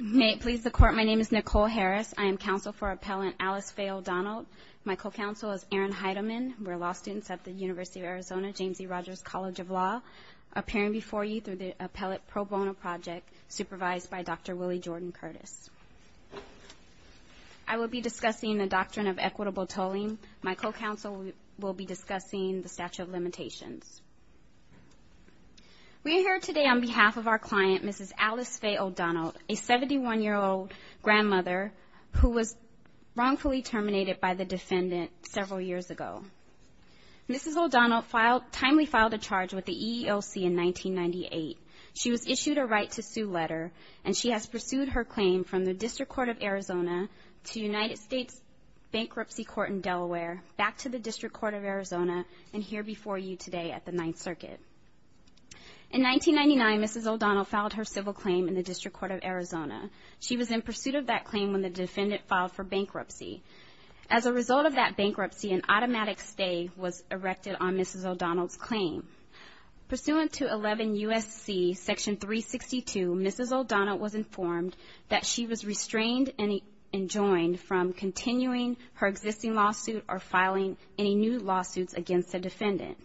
May it please the Court, my name is Nicole Harris. I am counsel for Appellant Alice Faye O'Donnell. My co-counsel is Erin Heidemann. We're law students at the University of Arizona James E. Rogers College of Law, appearing before you through the Appellate Pro Bono Project, supervised by Dr. Willie Jordan Curtis. I will be discussing the doctrine of equitable tolling. We are here today on behalf of our client, Mrs. Alice Faye O'Donnell, a 71-year-old grandmother who was wrongfully terminated by the defendant several years ago. Mrs. O'Donnell timely filed a charge with the EEOC in 1998. She was issued a right-to-sue letter, and she has pursued her claim from the District Court of Arizona to United States Bankruptcy Court in Delaware, back to the District Court of Arizona, and here before you today at the Ninth Circuit. In 1999, Mrs. O'Donnell filed her civil claim in the District Court of Arizona. She was in pursuit of that claim when the defendant filed for bankruptcy. As a result of that bankruptcy, an automatic stay was erected on Mrs. O'Donnell's claim. Pursuant to 11 U.S.C. section 362, Mrs. O'Donnell was informed that she was restrained and enjoined from continuing her existing lawsuit or filing any new lawsuits against the defendant.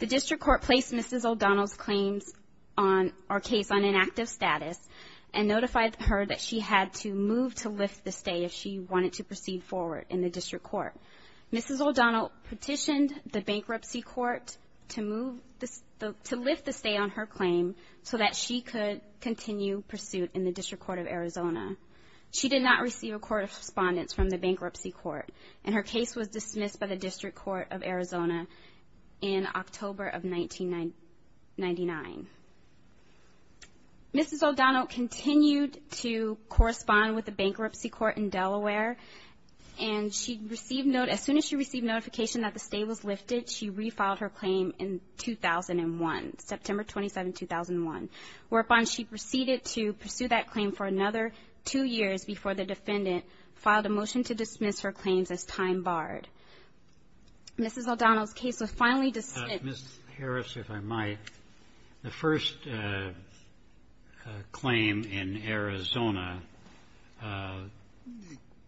The District Court placed Mrs. O'Donnell's case on inactive status and notified her that she had to move to lift the stay if she wanted to proceed forward in the District Court. Mrs. O'Donnell petitioned the Bankruptcy Court to lift the stay on her claim so that she could continue pursuit in the District Court of Arizona. She did not receive a court of correspondence from the Bankruptcy Court, and her case was dismissed by the District Court of Arizona in October of 1999. Mrs. O'Donnell continued to correspond with the Bankruptcy Court in Delaware, and as soon as she received notification that the stay was lifted, she refiled her claim in 2001, September 27, 2001, whereupon she proceeded to pursue that claim for another two years before the defendant filed a motion to dismiss her claims as time barred. Mrs. O'Donnell's case was finally dismissed. Mr. Harris, if I might. The first claim in Arizona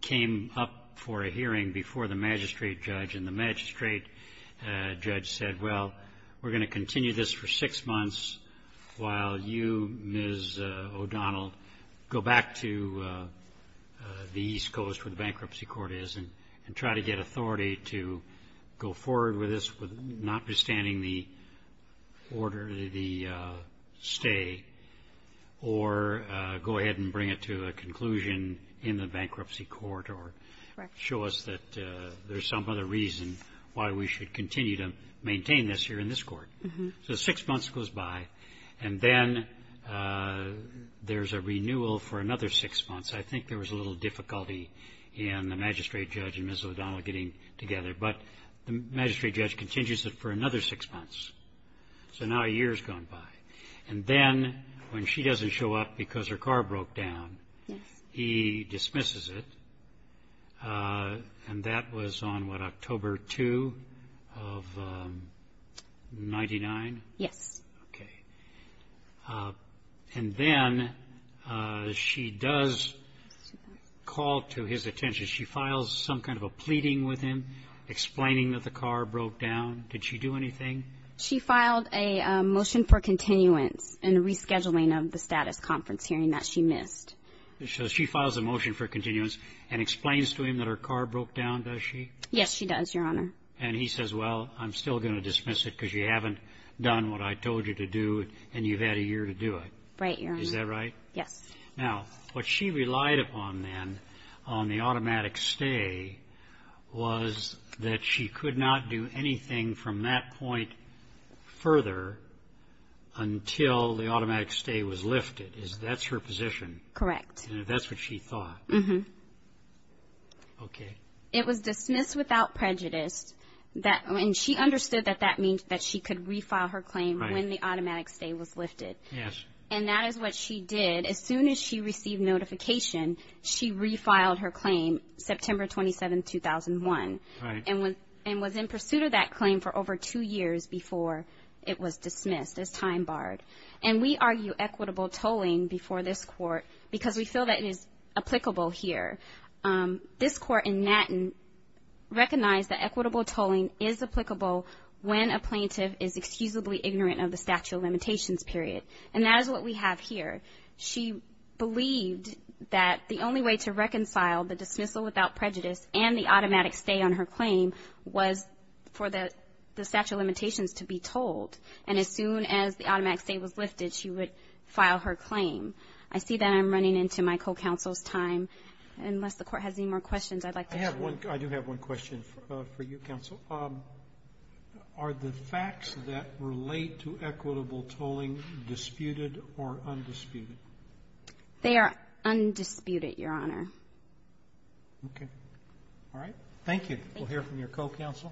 came up for a hearing before the magistrate judge, and the magistrate judge said, well, we're going to continue this for six months while you, Ms. O'Donnell, go back to the East Coast where the Bankruptcy Court is and try to get authority to go forward with this, notwithstanding the order of the stay, or go ahead and bring it to a conclusion in the Bankruptcy Court or show us that there's some other reason why we should continue to maintain this here in this court. So six months goes by, and then there's a renewal for another six months. I think there was a little difficulty in the magistrate judge and Ms. O'Donnell getting together, but the magistrate judge continues it for another six months. So now a year has gone by. And then when she doesn't show up because her car broke down, he dismisses it. And that was on, what, October 2 of 99? Yes. Okay. And then she does call to his attention. She files some kind of a pleading with him explaining that the car broke down. Did she do anything? She filed a motion for continuance in the rescheduling of the status conference hearing that she missed. So she files a motion for continuance and explains to him that her car broke down, does she? Yes, she does, Your Honor. And he says, well, I'm still going to dismiss it because you haven't done what I told you to do, and you've had a year to do it. Right, Your Honor. Is that right? Yes. Now, what she relied upon then on the automatic stay was that she could not do anything from that point further until the automatic stay was lifted. That's her position? Correct. And that's what she thought? Uh-huh. Okay. It was dismissed without prejudice. And she understood that that means that she could refile her claim when the automatic stay was lifted. Yes. And that is what she did. As soon as she received notification, she refiled her claim, September 27, 2001. Right. And was in pursuit of that claim for over two years before it was dismissed, as time barred. And we argue equitable tolling before this Court because we feel that it is applicable here. This Court in Natten recognized that equitable tolling is applicable when a plaintiff is excusably ignorant of the statute of limitations period. And that is what we have here. She believed that the only way to reconcile the dismissal without prejudice and the automatic stay on her claim was for the statute of limitations to be told. And as soon as the automatic stay was lifted, she would file her claim. I see that I'm running into my co-counsel's time. Unless the Court has any more questions, I'd like to ask. I do have one question for you, Counsel. Are the facts that relate to equitable tolling disputed or undisputed? They are undisputed, Your Honor. Okay. All right. Thank you. We'll hear from your co-counsel.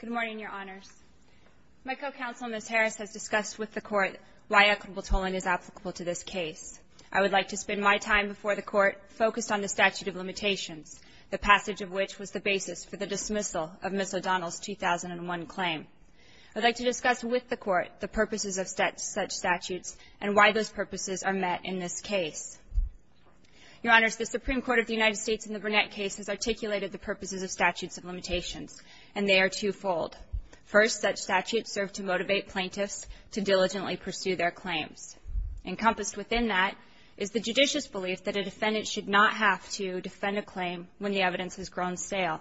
Good morning, Your Honors. My co-counsel, Ms. Harris, has discussed with the Court why equitable tolling is applicable to this case. I would like to spend my time before the Court focused on the statute of limitations, the passage of which was the basis for the dismissal of Ms. O'Donnell's 2001 claim. I'd like to discuss with the Court the purposes of such statutes and why those purposes are met in this case. Your Honors, the Supreme Court of the United States in the Burnett case has articulated the purposes of statutes of limitations, and they are twofold. First, such statutes serve to motivate plaintiffs to diligently pursue their claims. Encompassed within that is the judicious belief that a defendant should not have to defend a claim when the evidence has grown stale.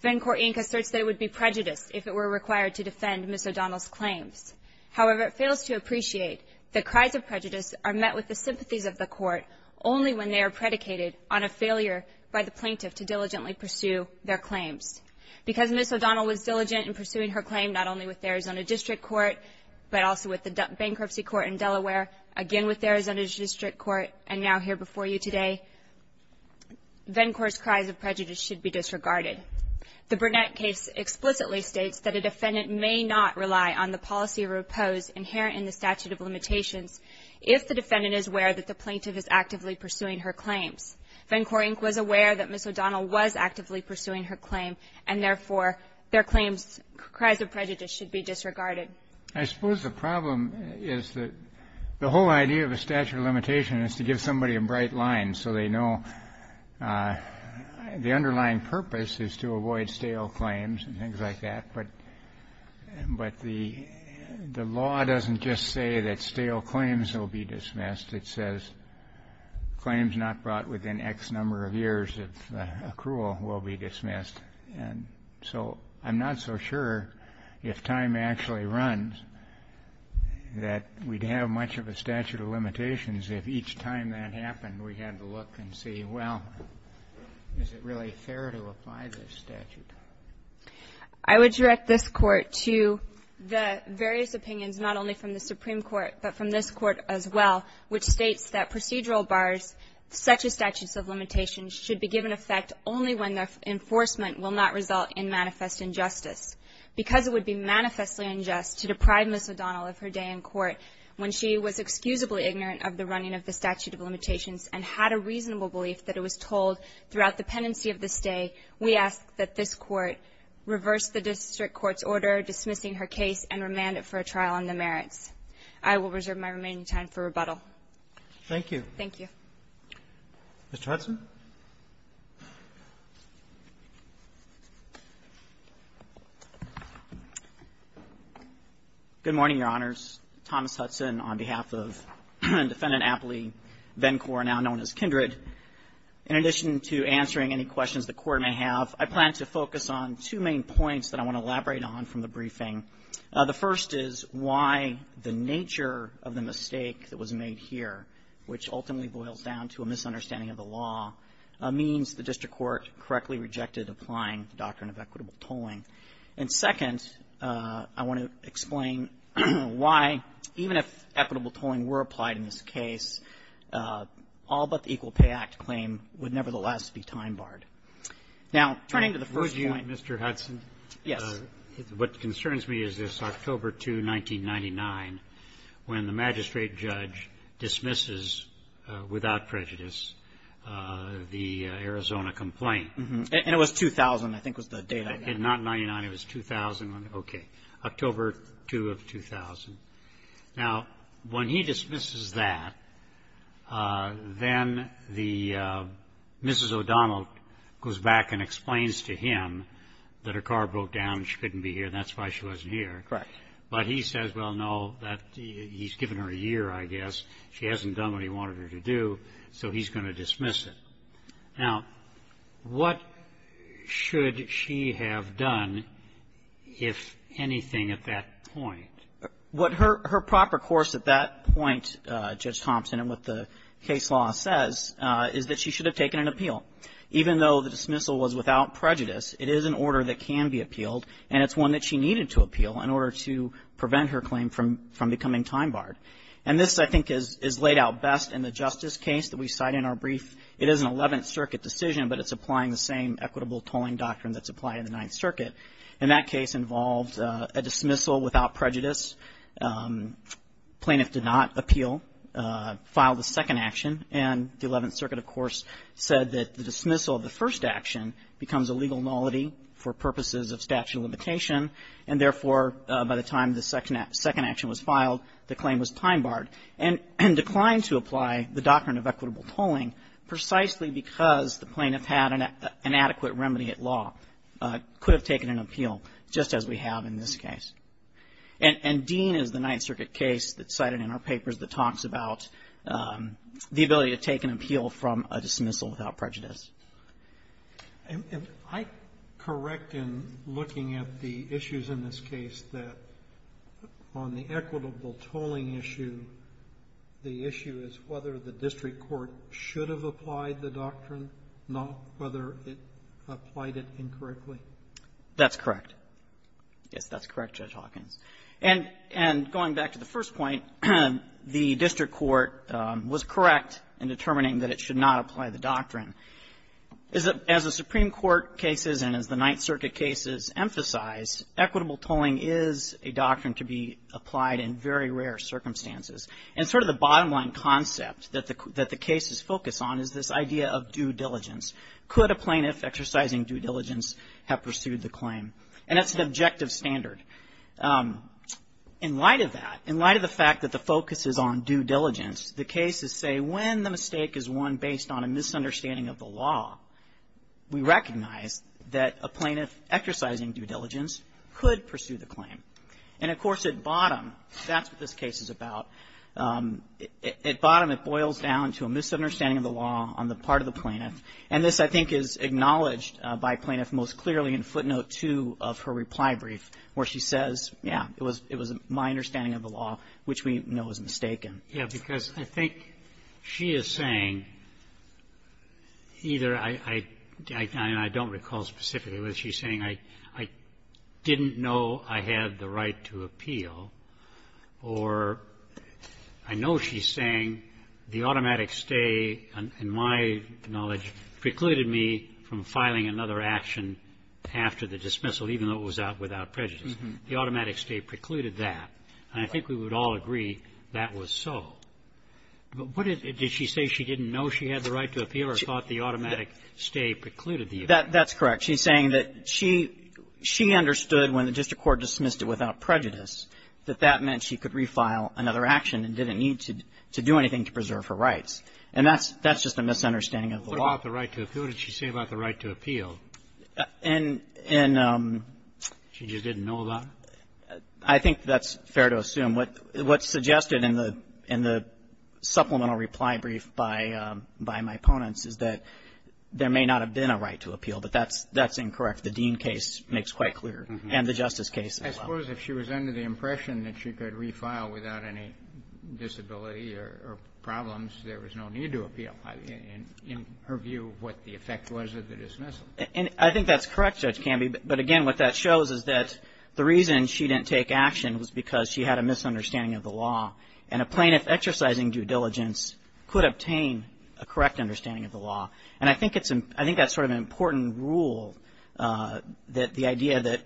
Venn Court Inc. asserts that it would be prejudiced if it were required to defend Ms. O'Donnell's claims. However, it fails to appreciate that cries of prejudice are met with the sympathies of the Court only when they are predicated on a failure by the plaintiff to diligently pursue their claims. Because Ms. O'Donnell was diligent in pursuing her claim not only with the Arizona District Court, but also with the bankruptcy court in Delaware, again with the Arizona District Court, and now here before you today, Venn Court's cries of prejudice should be disregarded. The Burnett case explicitly states that a defendant may not rely on the policy of repose inherent in the statute of limitations if the defendant is aware that the plaintiff is actively pursuing her claims. Venn Court Inc. was aware that Ms. O'Donnell was actively pursuing her claim, and therefore their claims, cries of prejudice, should be disregarded. I suppose the problem is that the whole idea of a statute of limitation is to give somebody a bright line so they know the underlying purpose is to avoid stale claims and things like that. But the law doesn't just say that stale claims will be dismissed. It says claims not brought within X number of years of accrual will be dismissed. And so I'm not so sure if time actually runs that we'd have much of a statute of limitations if each time that happened we had to look and see, well, is it really fair to apply this statute? I would direct this Court to the various opinions not only from the Supreme Court, but from this Court as well, which states that procedural bars such as statutes of limitations should be given effect only when their enforcement will not result in manifest injustice. Because it would be manifestly unjust to deprive Ms. O'Donnell of her day in court when she was excusably ignorant of the running of the statute of limitations and had a reasonable belief that it was told throughout the pendency of this day, we ask that this Court reverse the district court's order dismissing her case and remand it for a trial on the merits. I will reserve my remaining time for rebuttal. Roberts. Thank you. Thank you. Mr. Hudson. Good morning, Your Honors. Thomas Hudson on behalf of Defendant Apley Venkor, now known as Kindred. In addition to answering any questions the Court may have, I plan to focus on two main points that I want to elaborate on from the briefing. The first is why the nature of the mistake that was made here, which ultimately boils down to a misunderstanding of the law, means the district court correctly rejected applying the doctrine of equitable tolling. And second, I want to explain why, even if equitable tolling were applied in this case, all but the Equal Pay Act claim would nevertheless be time-barred. Now, turning to the first point. Would you, Mr. Hudson? Yes. What concerns me is this October 2, 1999, when the magistrate judge dismisses without prejudice the Arizona complaint. And it was 2000, I think, was the date. Not 99. It was 2000. Okay. October 2 of 2000. Now, when he dismisses that, then the Mrs. O'Donnell goes back and explains to him that her car broke down and she couldn't be here and that's why she wasn't here. Correct. But he says, well, no, he's given her a year, I guess. She hasn't done what he wanted her to do, so he's going to dismiss it. Now, what should she have done, if anything, at that point? What her proper course at that point, Judge Thompson, and what the case law says, is that she should have taken an appeal. Even though the dismissal was without prejudice, it is an order that can be appealed and it's one that she needed to appeal in order to prevent her claim from becoming time barred. And this, I think, is laid out best in the justice case that we cite in our brief. It is an Eleventh Circuit decision, but it's applying the same equitable tolling doctrine that's applied in the Ninth Circuit. And that case involved a dismissal without prejudice. Plaintiff did not appeal, filed a second action, and the Eleventh Circuit, of course, said that the dismissal of the first action becomes a legal nullity for purposes of statute of limitation. And, therefore, by the time the second action was filed, the claim was time barred and declined to apply the doctrine of equitable tolling precisely because the plaintiff had an adequate remedy at law, could have taken an appeal, just as we have in this case. And Dean is the Ninth Circuit case that's cited in our papers that talks about the ability to take an appeal from a dismissal without prejudice. Roberts. Am I correct in looking at the issues in this case that on the equitable tolling issue, the issue is whether the district court should have applied the doctrine, not whether it applied it incorrectly? That's correct. Yes, that's correct, Judge Hawkins. And going back to the first point, the district court was correct in determining that it should not apply the doctrine. As the Supreme Court cases and as the Ninth Circuit cases emphasize, equitable tolling is a doctrine to be applied in very rare circumstances. And sort of the bottom line concept that the cases focus on is this idea of due diligence. Could a plaintiff exercising due diligence have pursued the claim? And that's an objective standard. In light of that, in light of the fact that the focus is on due diligence, the cases say when the mistake is one based on a misunderstanding of the law, we recognize that a plaintiff exercising due diligence could pursue the claim. And, of course, at bottom, that's what this case is about. At bottom, it boils down to a misunderstanding of the law on the part of the plaintiff. And this, I think, is acknowledged by plaintiff most clearly in footnote 2 of her reply brief, where she says, yeah, it was my understanding of the law, which we know is mistaken. Yeah. Because I think she is saying either I don't recall specifically what she's saying. I didn't know I had the right to appeal. Or I know she's saying the automatic stay, in my knowledge, precluded me from filing another action after the dismissal, even though it was out without prejudice. The automatic stay precluded that. And I think we would all agree that was so. But what is it? Did she say she didn't know she had the right to appeal or thought the automatic stay precluded the use? That's correct. She's saying that she understood when the district court dismissed it without prejudice, that that meant she could re-file another action and didn't need to do anything to preserve her rights. And that's just a misunderstanding of the law. What about the right to appeal? What did she say about the right to appeal? She just didn't know about it? I think that's fair to assume. What's suggested in the supplemental reply brief by my opponents is that there may not have been a right to appeal, but that's incorrect. The Dean case makes quite clear, and the Justice case as well. But I suppose if she was under the impression that she could re-file without any disability or problems, there was no need to appeal, in her view, what the effect was of the dismissal. And I think that's correct, Judge Camby. But, again, what that shows is that the reason she didn't take action was because she had a misunderstanding of the law. And a plaintiff exercising due diligence could obtain a correct understanding of the law. And I think that's sort of an important rule, that the idea that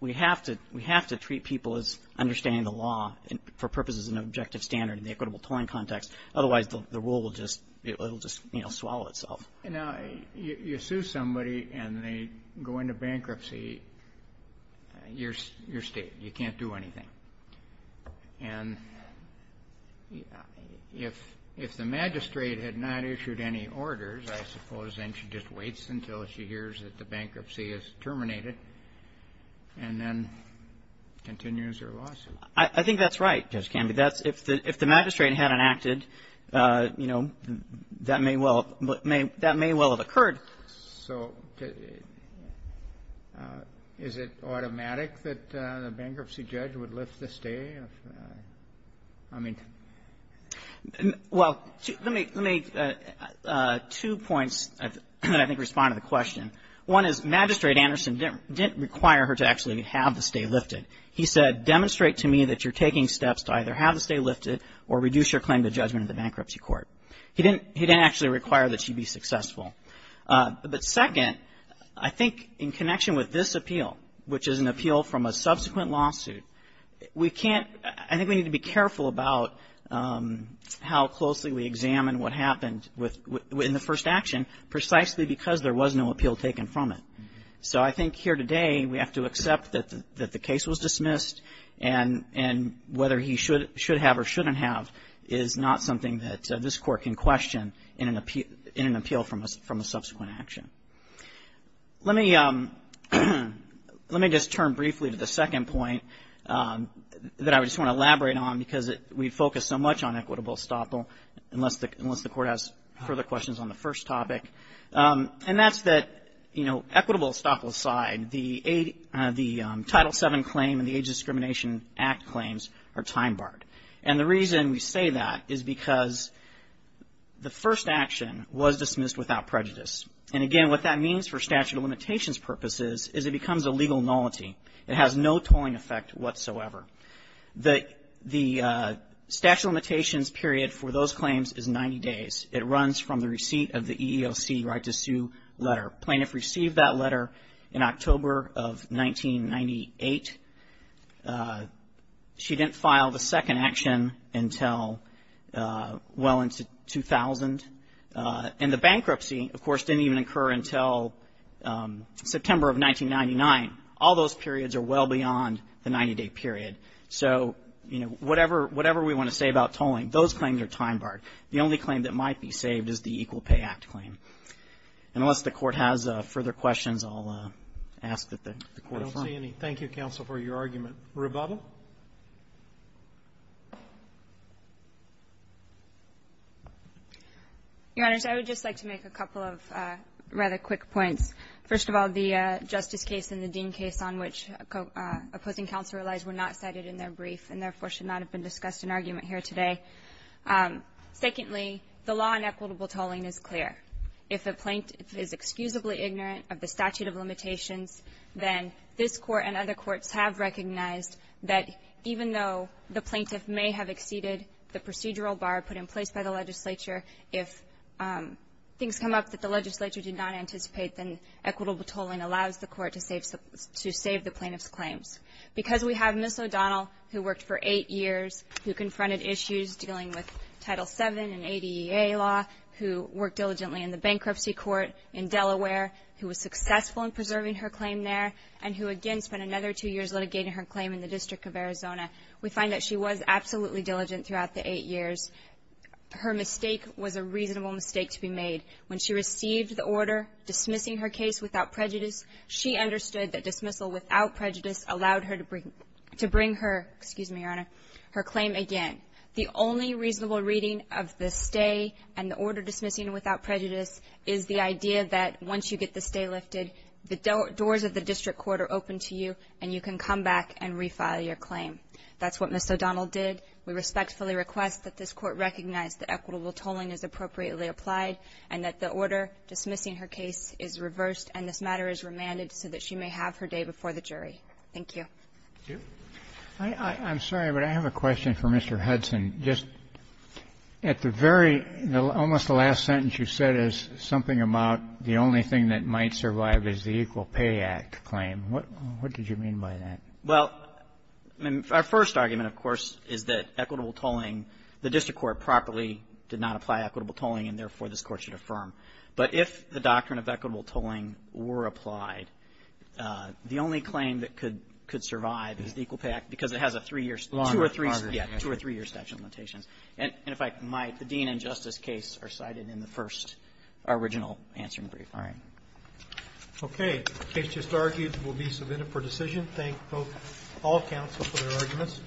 we have to treat people as understanding the law for purposes of an objective standard in the equitable tolling context. Otherwise, the rule will just swallow itself. Now, you sue somebody and they go into bankruptcy, you're stated. You can't do anything. And if the magistrate had not issued any orders, I suppose then she just waits until she hears that the bankruptcy is terminated and then continues her lawsuit. I think that's right, Judge Camby. If the magistrate hadn't acted, you know, that may well have occurred. So is it automatic that the bankruptcy judge would lift the stay? I mean to me, two points that I think respond to the question. One is Magistrate Anderson didn't require her to actually have the stay lifted. He said, demonstrate to me that you're taking steps to either have the stay lifted or reduce your claim to judgment at the bankruptcy court. He didn't actually require that she be successful. But second, I think in connection with this appeal, which is an appeal from a subsequent lawsuit, we can't – I think we need to be careful about how closely we examine what happened in the first action precisely because there was no appeal taken from it. So I think here today we have to accept that the case was dismissed and whether he should have or shouldn't have is not something that this court can question in an appeal from a subsequent action. Let me just turn briefly to the second point that I just want to elaborate on because we focus so much on equitable estoppel, unless the court has further questions on the first topic. And that's that, you know, equitable estoppel aside, the Title VII claim and the Age Discrimination Act claims are time-barred. And the reason we say that is because the first action was dismissed without prejudice. And again, what that means for statute of limitations purposes is it becomes a legal nullity. It has no tolling effect whatsoever. The statute of limitations period for those claims is 90 days. It runs from the receipt of the EEOC right to sue letter. Plaintiff received that letter in October of 1998. She didn't file the second action until well into 2000. And the bankruptcy, of course, didn't even occur until September of 1999. All those periods are well beyond the 90-day period. So, you know, whatever we want to say about tolling, those claims are time-barred. The only claim that might be saved is the Equal Pay Act claim. Unless the court has further questions, I'll ask that the court affirm. Roberts, do you have any? Thank you, counsel, for your argument. Rebuttal? Your Honors, I would just like to make a couple of rather quick points. First of all, the Justice case and the Dean case on which opposing counsel relies were not cited in their brief and, therefore, should not have been discussed in argument here today. Secondly, the law on equitable tolling is clear. If a plaintiff is excusably ignorant of the statute of limitations, then this Court and other courts have recognized that even though the plaintiff may have exceeded the procedural bar put in place by the legislature, if things come up that the legislature did not anticipate, then equitable tolling allows the court to save the plaintiff's claims. Because we have Ms. O'Donnell, who worked for eight years, who confronted issues dealing with Title VII and ADEA law, who worked diligently in the bankruptcy court in Delaware, who was successful in preserving her claim there, and who, again, spent another two years litigating her claim in the District of Arizona, we find that she was absolutely diligent throughout the eight years. Her mistake was a reasonable mistake to be made. When she received the order dismissing her case without prejudice, she understood that dismissal without prejudice allowed her to bring her claim again. The only reasonable reading of the stay and the order dismissing without prejudice is the idea that once you get the stay lifted, the doors of the district court are open to you and you can come back and refile your claim. That's what Ms. O'Donnell did. We respectfully request that this Court recognize that equitable tolling is appropriately applied and that the order dismissing her case is reversed and this matter is remanded so that she may have her day before the jury. Thank you. Roberts. I'm sorry, but I have a question for Mr. Hudson. Just at the very almost last sentence you said is something about the only thing that might survive is the Equal Pay Act claim. What did you mean by that? Well, I mean, our first argument, of course, is that equitable tolling, the district court properly did not apply equitable tolling and, therefore, this Court should affirm. But if the doctrine of equitable tolling were applied, the only claim that could survive is the Equal Pay Act because it has a three-year statute of limitations. And if I might, the Dean and Justice case are cited in the first original answering brief. All right. Okay. The case just argued will be submitted for decision. Thank all counsel for their arguments.